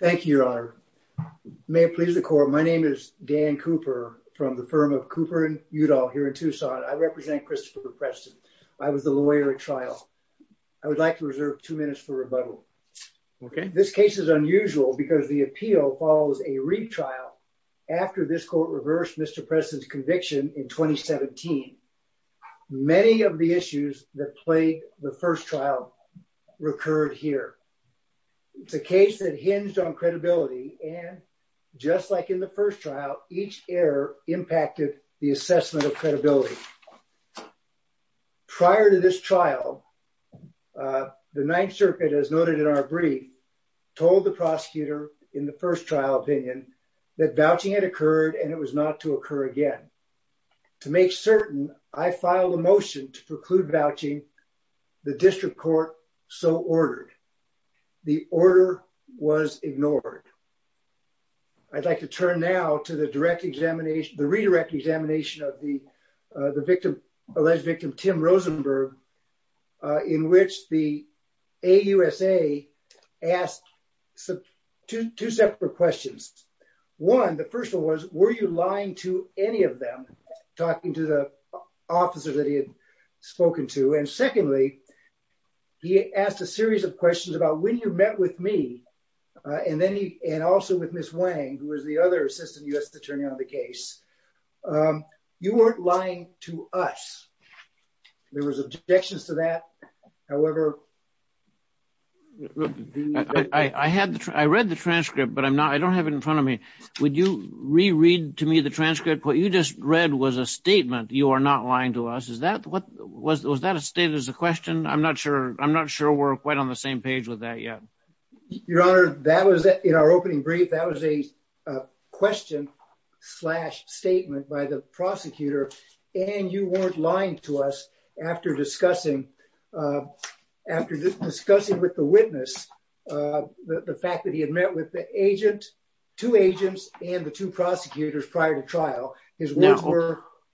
Thank you, your honor. May it please the court, my name is Dan Cooper from the firm of Cooper and Udall here in Tucson. I represent Christopher Preston. I was the lawyer at trial. I would like to reserve two minutes for rebuttal. Okay. This case is unusual because the appeal follows a retrial after this court reversed Mr. Preston's conviction in 2017. Many of the issues that made the first trial recurred here. It's a case that hinged on credibility and just like in the first trial, each error impacted the assessment of credibility. Prior to this trial, the Ninth Circuit, as noted in our brief, told the prosecutor in the first trial opinion that vouching had the district court so ordered. The order was ignored. I'd like to turn now to the direct examination, the redirect examination of the victim, alleged victim, Tim Rosenberg, in which the AUSA asked two separate questions. One, the first one was, were you lying to any of them? Talking to the officer that he had spoken to. And secondly, he asked a series of questions about when you met with me and then he, and also with Ms. Wang, who was the other assistant U.S. attorney on the case. You weren't lying to us. There was objections to that. However, I had, I read the transcript, but I'm not, I don't have it in front of me. Would you reread to me the transcript? What you just read was a statement. You are not lying to us. Is that what was, was that a state as a question? I'm not sure. I'm not sure we're quite on the same page with that yet. Your Honor, that was in our opening brief. That was a question slash statement by the prosecutor. And you weren't lying to us after discussing, uh, after discussing with the witness, uh, the fact that he had met with the agent, two agents and the two prosecutors prior to trial.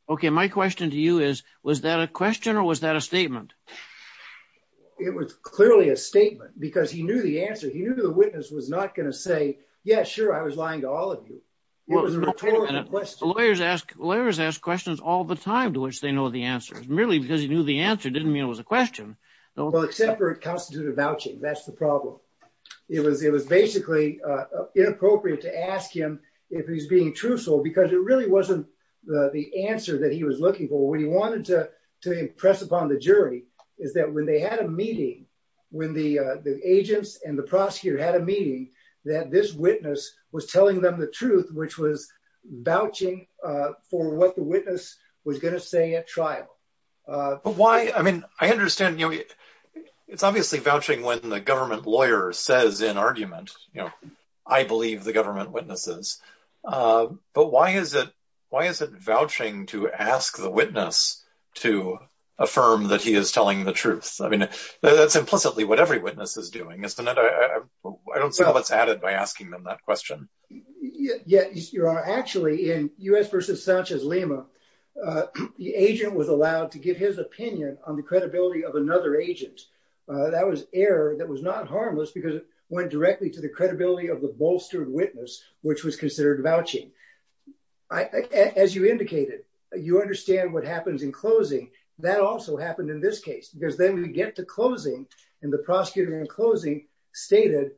Okay. My question to you is, was that a question or was that a statement? It was clearly a statement because he knew the answer. He knew the witness was not going to say, yeah, sure. I was lying to all of you. Lawyers ask, lawyers ask questions all the time to which they know the answer is merely because he knew the answer didn't mean it was a question. Well, except for it constituted vouching. That's the problem. It was, it was basically, uh, inappropriate to ask him if he's being truthful because it really wasn't the answer that he was looking for when he wanted to impress upon the jury is that when they had a meeting, when the, uh, the agents and the prosecutor had a meeting that this witness was telling them the truth, which was vouching, uh, for what the witness was going to say at trial. Uh, but why, I mean, I understand, you know, it's obviously vouching when the government lawyer says in argument, you know, I believe the government witnesses. Uh, but why is it, why is it vouching to ask the witness to affirm that he is telling the truth? I mean, that's implicitly what every witness is doing. I don't see how it's added by asking them that question. Yeah, you are actually in us versus Sanchez Lima. Uh, the agent was allowed to give his opinion on the credibility of another agent. Uh, that was air that was not harmless because it went directly to the credibility of the bolstered witness, which was considered vouching. I, as you indicated, you understand what happens in closing that also happened in this case, because then we get to closing and the prosecutor in closing stated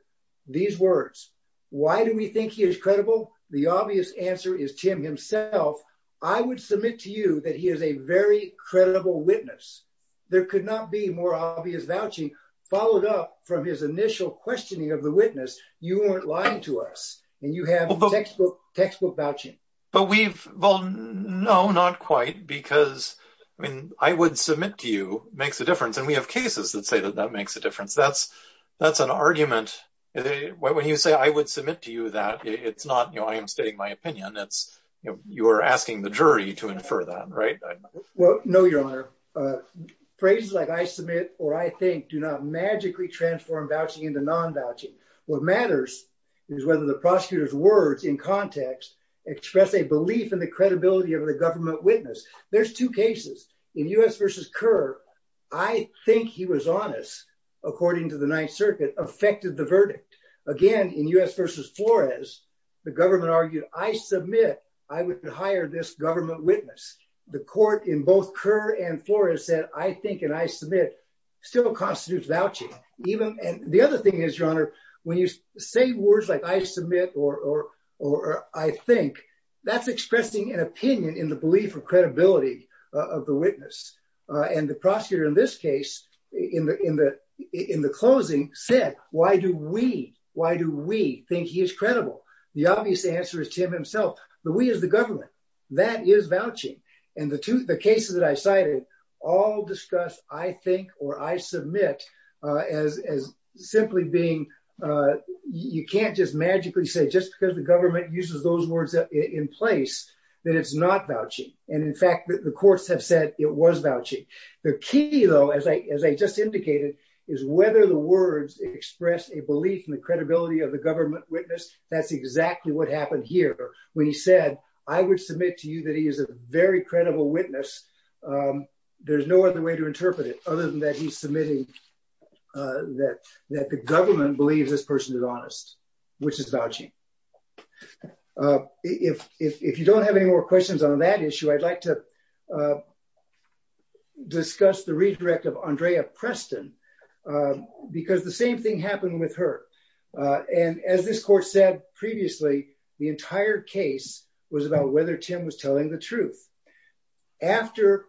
these words, why do we think he is credible? The obvious answer is Tim himself. I would submit to you that he is a very credible witness. There could not be more obvious vouching followed up from his initial questioning of the witness. You weren't lying to us and you have textbook, textbook but we've, well, no, not quite because I mean, I would submit to you makes a difference. And we have cases that say that that makes a difference. That's, that's an argument. When you say, I would submit to you that it's not, you know, I am stating my opinion. It's, you know, you are asking the jury to infer that, right? Well, no, your honor, uh, phrases like I submit or I think do not magically transform vouching into non-vouching. What matters is whether the prosecutor's words in context express a belief in the credibility of the government witness. There's two cases in U.S. versus Kerr. I think he was honest, according to the ninth circuit affected the verdict. Again, in U.S. versus Flores, the government argued, I submit, I would hire this government witness. The court in both Kerr and Flores said, I think, and I submit still constitutes vouching even. And the other thing is your honor, when you say words like I submit, or, or, or I think that's expressing an opinion in the belief of credibility of the witness. Uh, and the prosecutor in this case in the, in the, in the closing said, why do we, why do we think he is credible? The obvious answer is Tim himself. The we is the government that is vouching. And the two, the cases that I cited all discuss, I think, or I submit, uh, as, as simply being, uh, you can't just magically say just because the government uses those words in place that it's not vouching. And in fact, the courts have said it was vouching. The key though, as I, as I just indicated is whether the words express a belief in the credibility of the government witness. That's I would submit to you that he is a very credible witness. Um, there's no other way to interpret it other than that. He's submitting, uh, that, that the government believes this person is honest, which is vouching. Uh, if, if, if you don't have any more questions on that issue, I'd like to, uh, discuss the redirect of Andrea Preston, uh, because the same thing happened with her. Uh, and as this court said previously, the entire case was about whether Tim was telling the truth after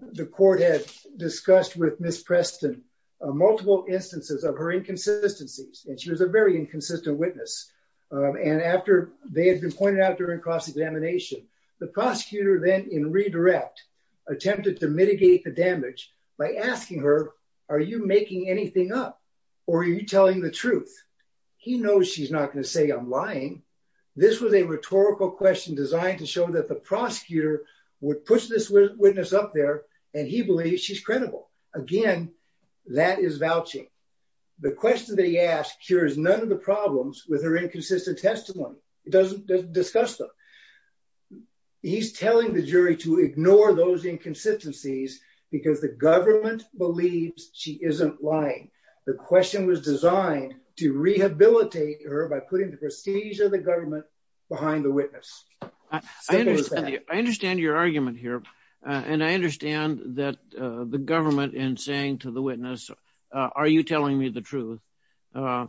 the court had discussed with Ms. Preston, uh, multiple instances of her inconsistencies. And she was a very inconsistent witness. Um, and after they had been pointed out during cross-examination, the prosecutor then in redirect attempted to mitigate the damage by asking her, are you making anything up or are you telling the truth? He knows she's not going to say I'm lying. This was a rhetorical question designed to show that the prosecutor would push this witness up there. And he believes she's credible. Again, that is vouching. The question that he asked here is none of the problems with her inconsistent testimony. It doesn't discuss them. He's telling the jury to ignore those inconsistencies because the government believes she isn't lying. The question was designed to rehabilitate her by putting the prestige of the government behind the witness. I understand, I understand your argument here. Uh, and I understand that, uh, the government and saying to the witness, uh, are you telling me the truth, uh,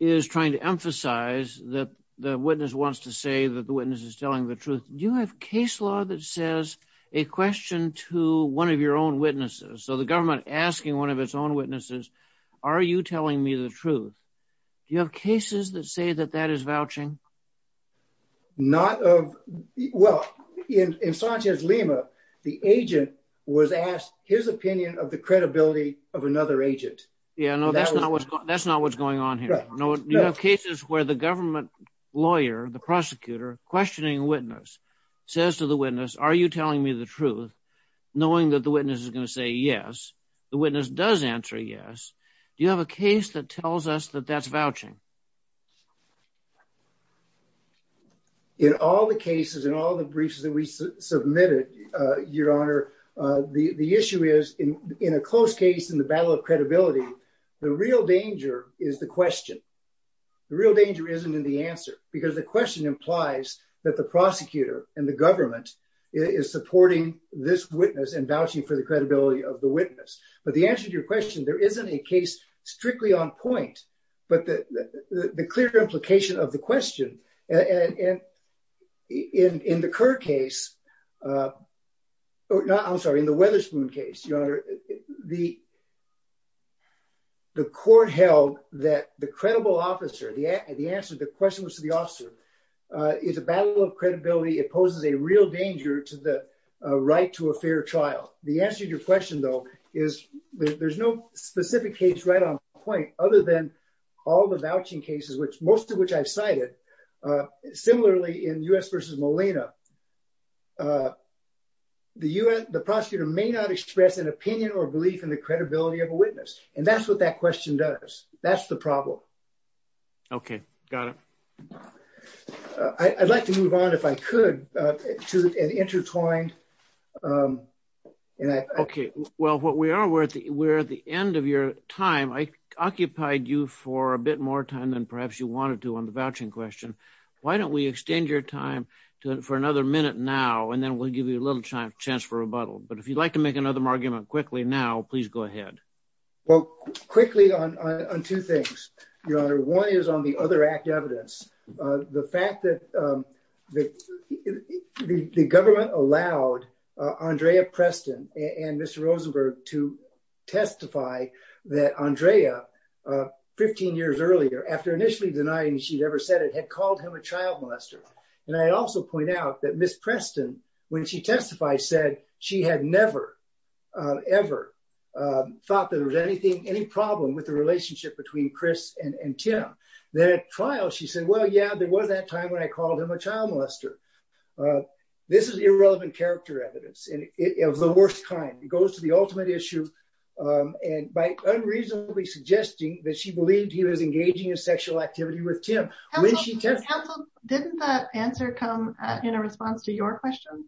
is trying to emphasize that the witness wants to say that the witness is telling the truth. Do you have case law that says a question to one of your own witnesses? So the government asking one of its own witnesses, are you telling me the truth? Do you have cases that say that that is vouching? Not of, well, in, in Sanchez Lima, the agent was asked his opinion of the credibility of another agent. Yeah, no, that's not what's, that's not what's going on here. No, no cases where the government lawyer, the prosecutor questioning witness says to the witness, are you telling me the truth? Knowing that the witness is going to say, yes, the witness does answer. Yes. Do you have a case that tells us that that's vouching? In all the cases, in all the briefs that we submitted, uh, your honor, uh, the, the issue is in a close case, in the battle of credibility, the real danger is the question. The real danger isn't in the answer because the question implies that the prosecutor and the government is supporting this witness and vouching for the credibility of the witness. But the answer to your question, there isn't a case strictly on point, but the, the clear implication of the the, the court held that the credible officer, the answer, the question was to the officer, uh, it's a battle of credibility. It poses a real danger to the, uh, right to a fair trial. The answer to your question though, is there's no specific case right on point other than all the vouching cases, which most of which I've cited, uh, similarly in U.S. versus Molina, uh, the U.S., the prosecutor may not express an opinion or belief in the credibility of a witness. And that's what that question does. That's the problem. Okay. Got it. I'd like to move on if I could, uh, to an intertwined, um, and I, okay. Well, what we are, we're at the, we're at the end of your time. I occupied you for a bit more time than perhaps you wanted to on the vouching question. Why don't we extend your time to, for another minute now, and then we'll give you a little chance for rebuttal. But if you'd like to make another argument quickly now, please go ahead. Well, quickly on, on two things, your honor, one is on the other act evidence. Uh, the fact that, that the government allowed, uh, Andrea Preston and Mr. Rosenberg to testify that Andrea, uh, 15 years earlier, after initially denying she'd ever said it, had called him a child molester. And I also point out that Ms. Preston, when she testified, said she had never, uh, ever, um, thought that there was anything, any problem with the relationship between Chris and, and Tim. Then at trial, she said, well, yeah, there was that time when I called him a child molester. Uh, this is irrelevant character evidence, and it, it was the worst kind. It unreasonably suggesting that she believed he was engaging in sexual activity with Tim. Didn't that answer come in a response to your question?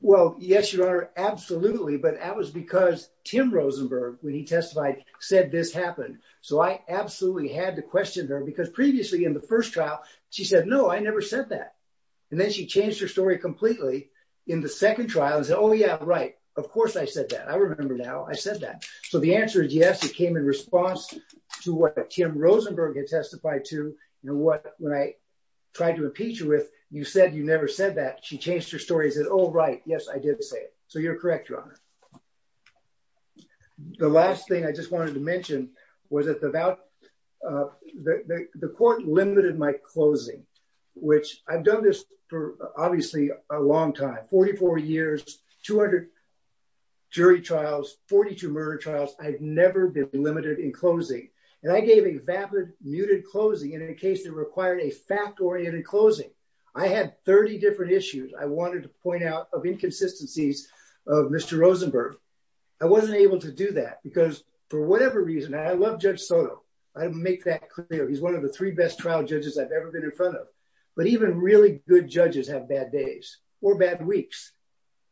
Well, yes, your honor. Absolutely. But that was because Tim Rosenberg, when he testified, said this happened. So I absolutely had to question her because previously in the first trial, she said, no, I never said that. And then she changed her story completely in the second trial and said, oh yeah, right. Of course I said that. I remember now I said that. So the answer is yes, it came in response to what Tim Rosenberg had testified to. You know what, when I tried to impeach her with, you said you never said that. She changed her story and said, oh, right, yes, I did say it. So you're correct, your honor. The last thing I just wanted to mention was that the about, uh, the, the, the court limited my closing, which I've done this for obviously a long time, 44 years, 200 jury trials, 42 murder trials. I've never been limited in closing. And I gave a vapid muted closing in a case that required a fact oriented closing. I had 30 different issues. I wanted to point out of inconsistencies of Mr. Rosenberg. I wasn't able to do that because for whatever reason, and I love Judge Soto. I didn't make that clear. He's one of the three best trial judges I've ever been in front of, but even really good judges have bad days or bad weeks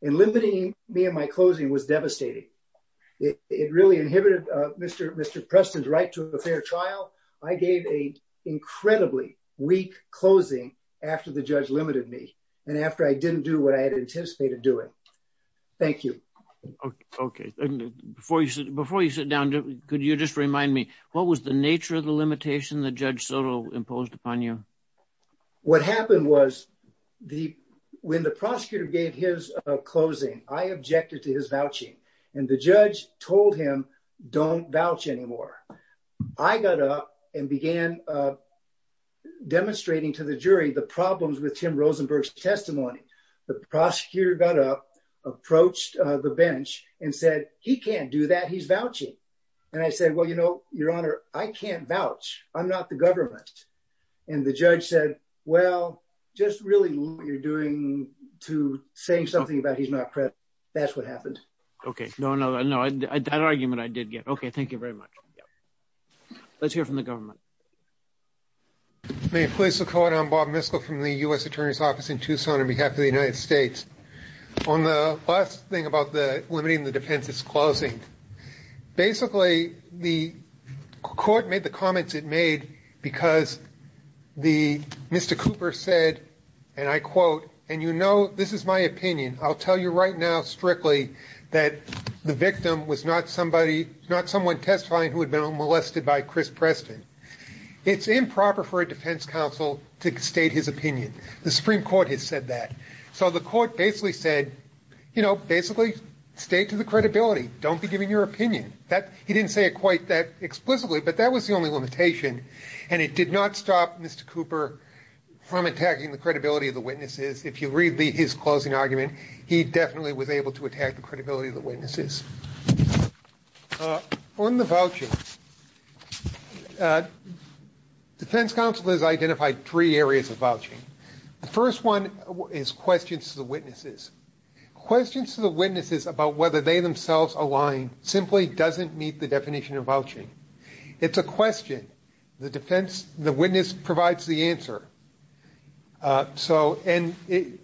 and limiting me and my closing was devastating. It really inhibited, uh, Mr. Mr. Preston's right to a fair trial. I gave a incredibly weak closing after the judge limited me and after I didn't do what I had anticipated doing. Thank you. Okay. Okay. And before you, before you sit down, could you just remind me what was the nature of the limitation that Judge imposed upon you? What happened was the, when the prosecutor gave his closing, I objected to his vouching and the judge told him don't vouch anymore. I got up and began demonstrating to the jury, the problems with Tim Rosenberg's testimony, the prosecutor got up, approached the bench and said, he can't do that. He's vouching. And I said, well, you know, your honor, I can't vouch. I'm not the government. And the judge said, well, just really what you're doing to say something about he's not present. That's what happened. Okay. No, no, no. I, I, that argument I did get. Okay. Thank you very much. Let's hear from the government. May it please the court. I'm Bob Miskell from the U S attorney's office in Tucson on behalf of the United States on the last thing about the limiting the defense is closing. Basically the court made the comments it made because the Mr. Cooper said, and I quote, and you know, this is my opinion. I'll tell you right now, strictly that the victim was not somebody, not someone testifying who had been molested by Chris Preston. It's improper for a defense counsel to state his opinion. The Supreme court has said that. So the court basically said, you know, basically stay to the credibility. Don't be giving your opinion that he didn't say it quite that explicitly, but that was the only limitation. And it did not stop Mr. Cooper from attacking the credibility of the witnesses. If you read the, his closing argument, he definitely was able to attack the credibility of the witnesses on the voucher. Defense counsel has identified three areas of vouching. The first one is questions to the witnesses about whether they themselves align simply doesn't meet the definition of vouching. It's a question. The defense, the witness provides the answer. So, and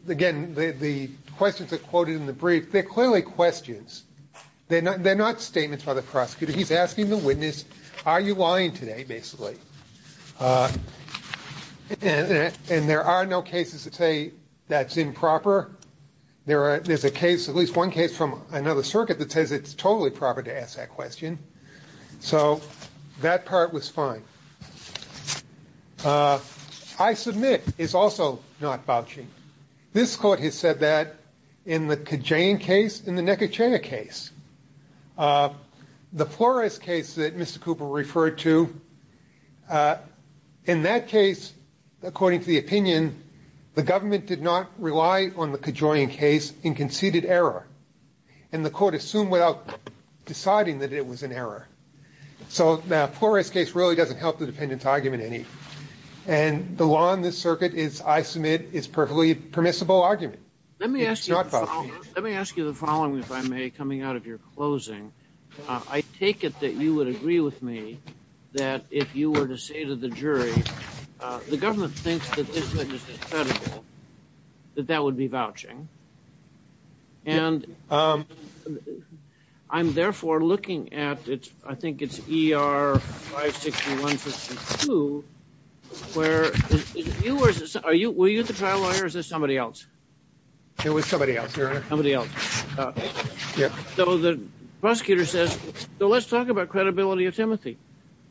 again, the questions are quoted in the brief. They're clearly questions. They're not, they're not statements by the prosecutor. He's asking the witness, are you lying today? Basically. And there are no cases that say that's improper. There are, there's a case, at least one case from another circuit that says it's totally proper to ask that question. So that part was fine. I submit is also not vouching. This court has said that in the Kajan case, in the neck of China case, the Flores case that Mr. Cooper referred to in that case, according to the opinion, the government did not rely on the Kajan case in conceded error. And the court assumed without deciding that it was an error. So the Flores case really doesn't help the defendant's argument any. And the law in this circuit is, I submit, is perfectly permissible argument. Let me ask you, let me ask you the following, if I may, coming out of your closing. I take it that you would agree with me that if you were to say to the jury, the government thinks that this witness is credible, that that would be vouching. And I'm therefore looking at it, I think it's ER 56152, where you are, are you, were you the trial lawyer or is this somebody else? It was somebody else. Somebody else. Yeah. So the prosecutor says, so let's talk about credibility of Timothy.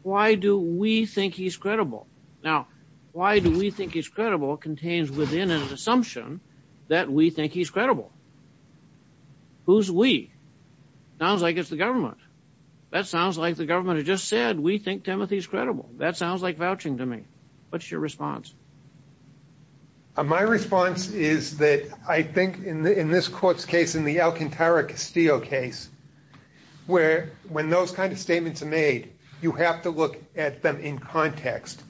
Why do we think he's credible? Now, why do we think he's credible contains within an assumption that we think he's credible? Who's we? Sounds like it's the government. That sounds like the government had just said, we think Timothy's credible. That sounds like vouching to me. What's your response? My response is that I think in the, in this court's case, in the Alcantara Castillo case, where, when those kinds of statements are made, you have to look at them in context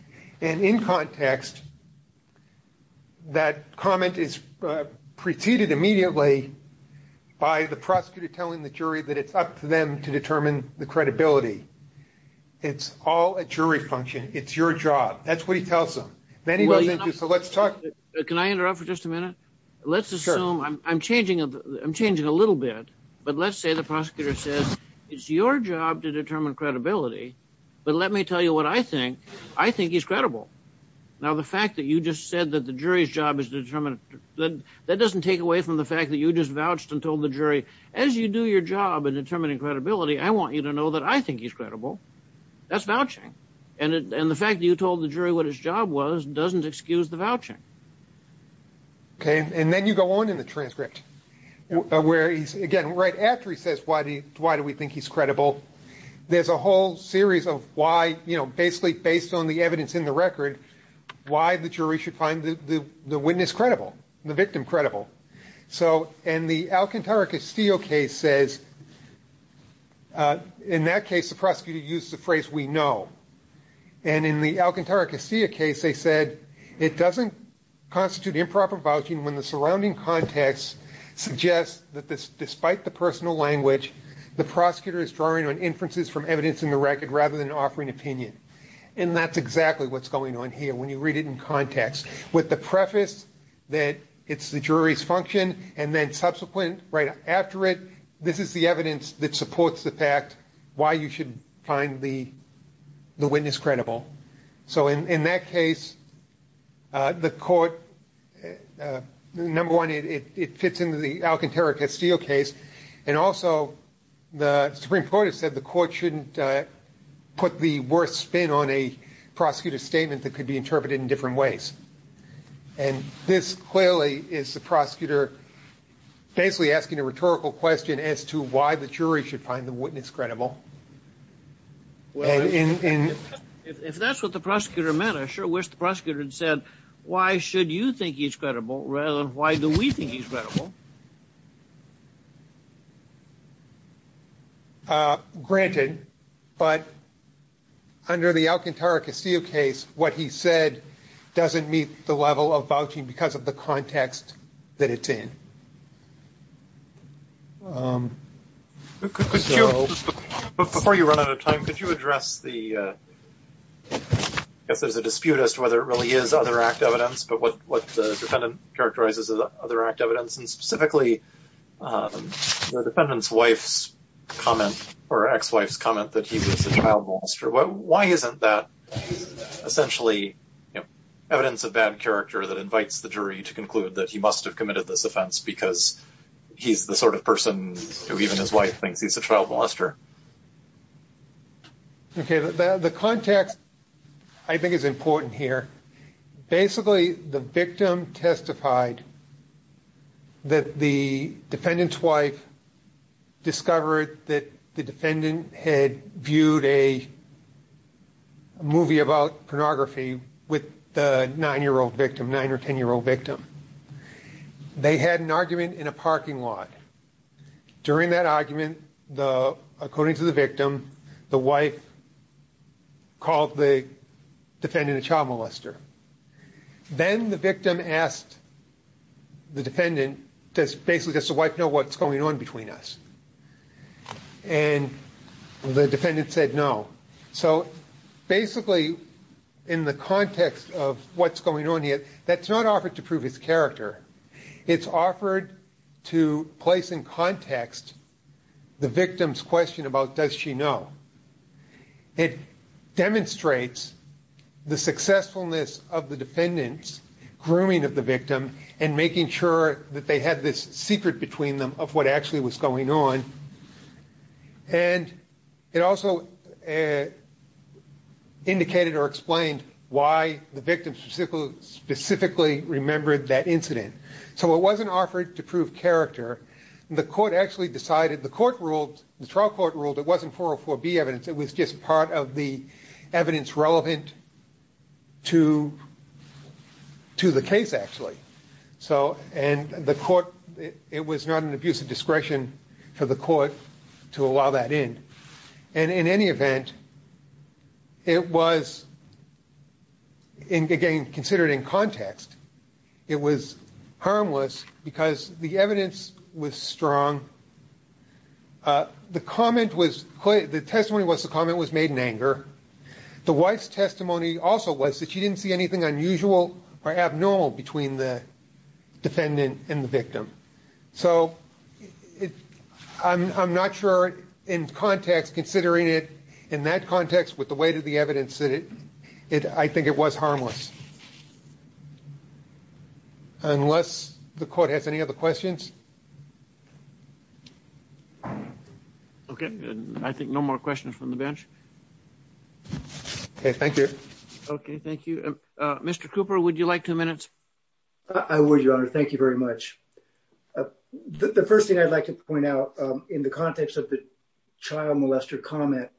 and in context, that comment is preceded immediately by the prosecutor telling the jury that it's up to them to determine the credibility. It's all a jury function. It's your job. That's what he tells them. So let's talk. Can I interrupt for just a minute? Let's assume I'm changing, I'm changing a little bit, but let's say the prosecutor says it's your job to determine credibility, but let me tell you what I think. I think he's credible. Now, the fact that you just said that the jury's job is determined, that that doesn't take away from the fact that you just vouched and told the jury, as you do your job in determining credibility, I want you to know that I think he's credible. That's vouching. And the fact that you told the jury what his job was doesn't excuse the fact that he's credible. Okay? And then you go on in the transcript, where he's, again, right after he says, why do you, why do we think he's credible? There's a whole series of why, you know, basically based on the evidence in the record, why the jury should find the witness credible, the victim credible. So, and the Alcantara Castillo case says, in that case, constitute improper vouching when the surrounding context suggests that this, despite the personal language, the prosecutor is drawing on inferences from evidence in the record rather than offering opinion. And that's exactly what's going on here. When you read it in context with the preface, that it's the jury's function. And then subsequent right after it, this is the evidence that supports the fact why you should find the, the witness credible. So in that case, the court, number one, it fits into the Alcantara Castillo case. And also the Supreme Court has said the court shouldn't put the worst spin on a prosecutor statement that could be interpreted in different ways. And this clearly is the prosecutor basically asking a rhetorical question as to why the jury should find the witness credible. Well, if that's what the said, why should you think he's credible rather than why do we think he's credible? Granted, but under the Alcantara Castillo case, what he said doesn't meet the level of vouching because of the context that it's in. Before you run out of time, could you address the, if there's a dispute as to whether it really is other act evidence, but what the defendant characterizes as other act evidence and specifically the defendant's wife's comment or ex-wife's comment that he was a child molester. Why isn't that essentially evidence of bad character that invites the jury to conclude that he must have committed this offense because he's the sort of person who even his wife thinks he's a child molester? Okay, the context I think is important here. Basically, the victim testified that the defendant's wife discovered that the defendant had viewed a movie about pornography with the 9-year-old victim, 9 or 10-year-old victim. They had an argument in a parking lot. During that argument, according to the victim, the wife called the defendant a child molester. Then the victim asked the defendant, does basically does the wife know what's going on between us? And the defendant said no. So basically, in the context of what's going on here, that's not to prove his character. It's offered to place in context the victim's question about does she know. It demonstrates the successfulness of the defendant's grooming of the victim and making sure that they had this secret between them of what actually was going on. And it also indicated or explained why the victim specifically remembered that incident. So it wasn't offered to prove character. The court actually decided, the court ruled, the trial court ruled, it wasn't 404B evidence. It was just part of the evidence relevant to the case, actually. And the court, it was not an abuse of discretion for the court to allow that in. And in any event, it was, again, considered in context. It was harmless because the evidence was strong. The testimony was the comment was made in anger. The wife's testimony also was that she didn't see anything unusual or abnormal between the in context, considering it in that context with the weight of the evidence, I think it was harmless. Unless the court has any other questions. Okay. I think no more questions from the bench. Okay. Thank you. Okay. Thank you. Mr. Cooper, would you like two minutes? I would, Your Honor. Thank you very much. The first thing I'd like to point out in context of the trial molester comment,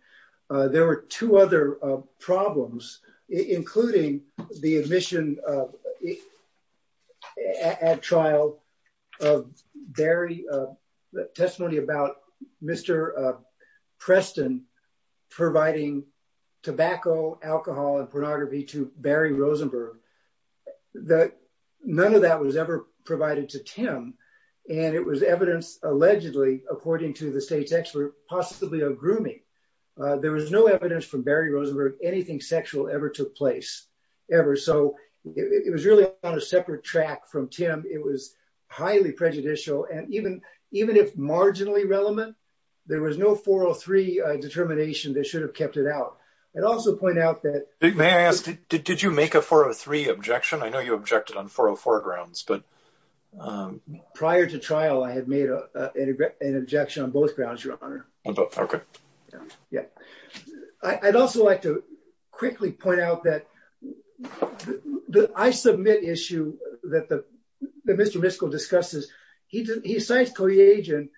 there were two other problems, including the admission at trial of Barry, the testimony about Mr. Preston providing tobacco, alcohol, and pornography to Barry Rosenberg. None of that was ever provided to Tim. And it was evidence, allegedly, according to the state's expert, possibly a grooming. There was no evidence from Barry Rosenberg, anything sexual ever took place, ever. So it was really on a separate track from Tim. It was highly prejudicial. And even if marginally relevant, there was no 403 determination that should have kept it out. I'd also point out that- May I ask, did you make a 403 objection? I know both grounds, Your Honor. Okay. Yeah. I'd also like to quickly point out that the I submit issue that Mr. Miskell discusses, he decides co-agent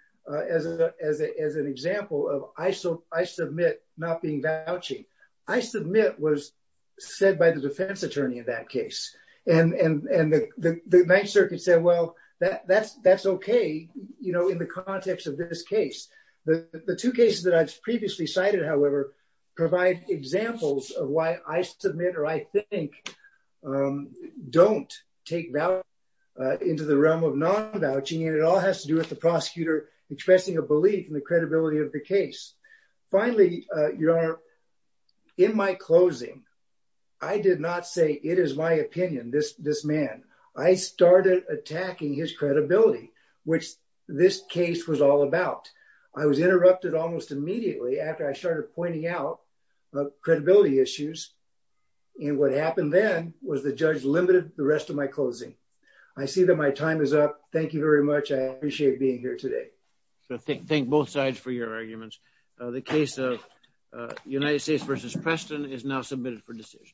as an example of I submit not being vouching. I submit was said by the defense attorney in that case. And the Ninth Circuit said, well, that's okay in the context of this case. The two cases that I've previously cited, however, provide examples of why I submit or I think don't take value into the realm of non-vouching. And it all has to do with the prosecutor expressing a belief in the credibility of the case. Finally, Your Honor, in my closing, I did not say it is my opinion, this man. I started attacking his credibility, which this case was all about. I was interrupted almost immediately after I started pointing out of credibility issues. And what happened then was the judge limited the rest of my closing. I see that my time is up. Thank you very much. I appreciate being here today. So thank both sides for your arguments. The case of United States versus Preston is now submitted for decision.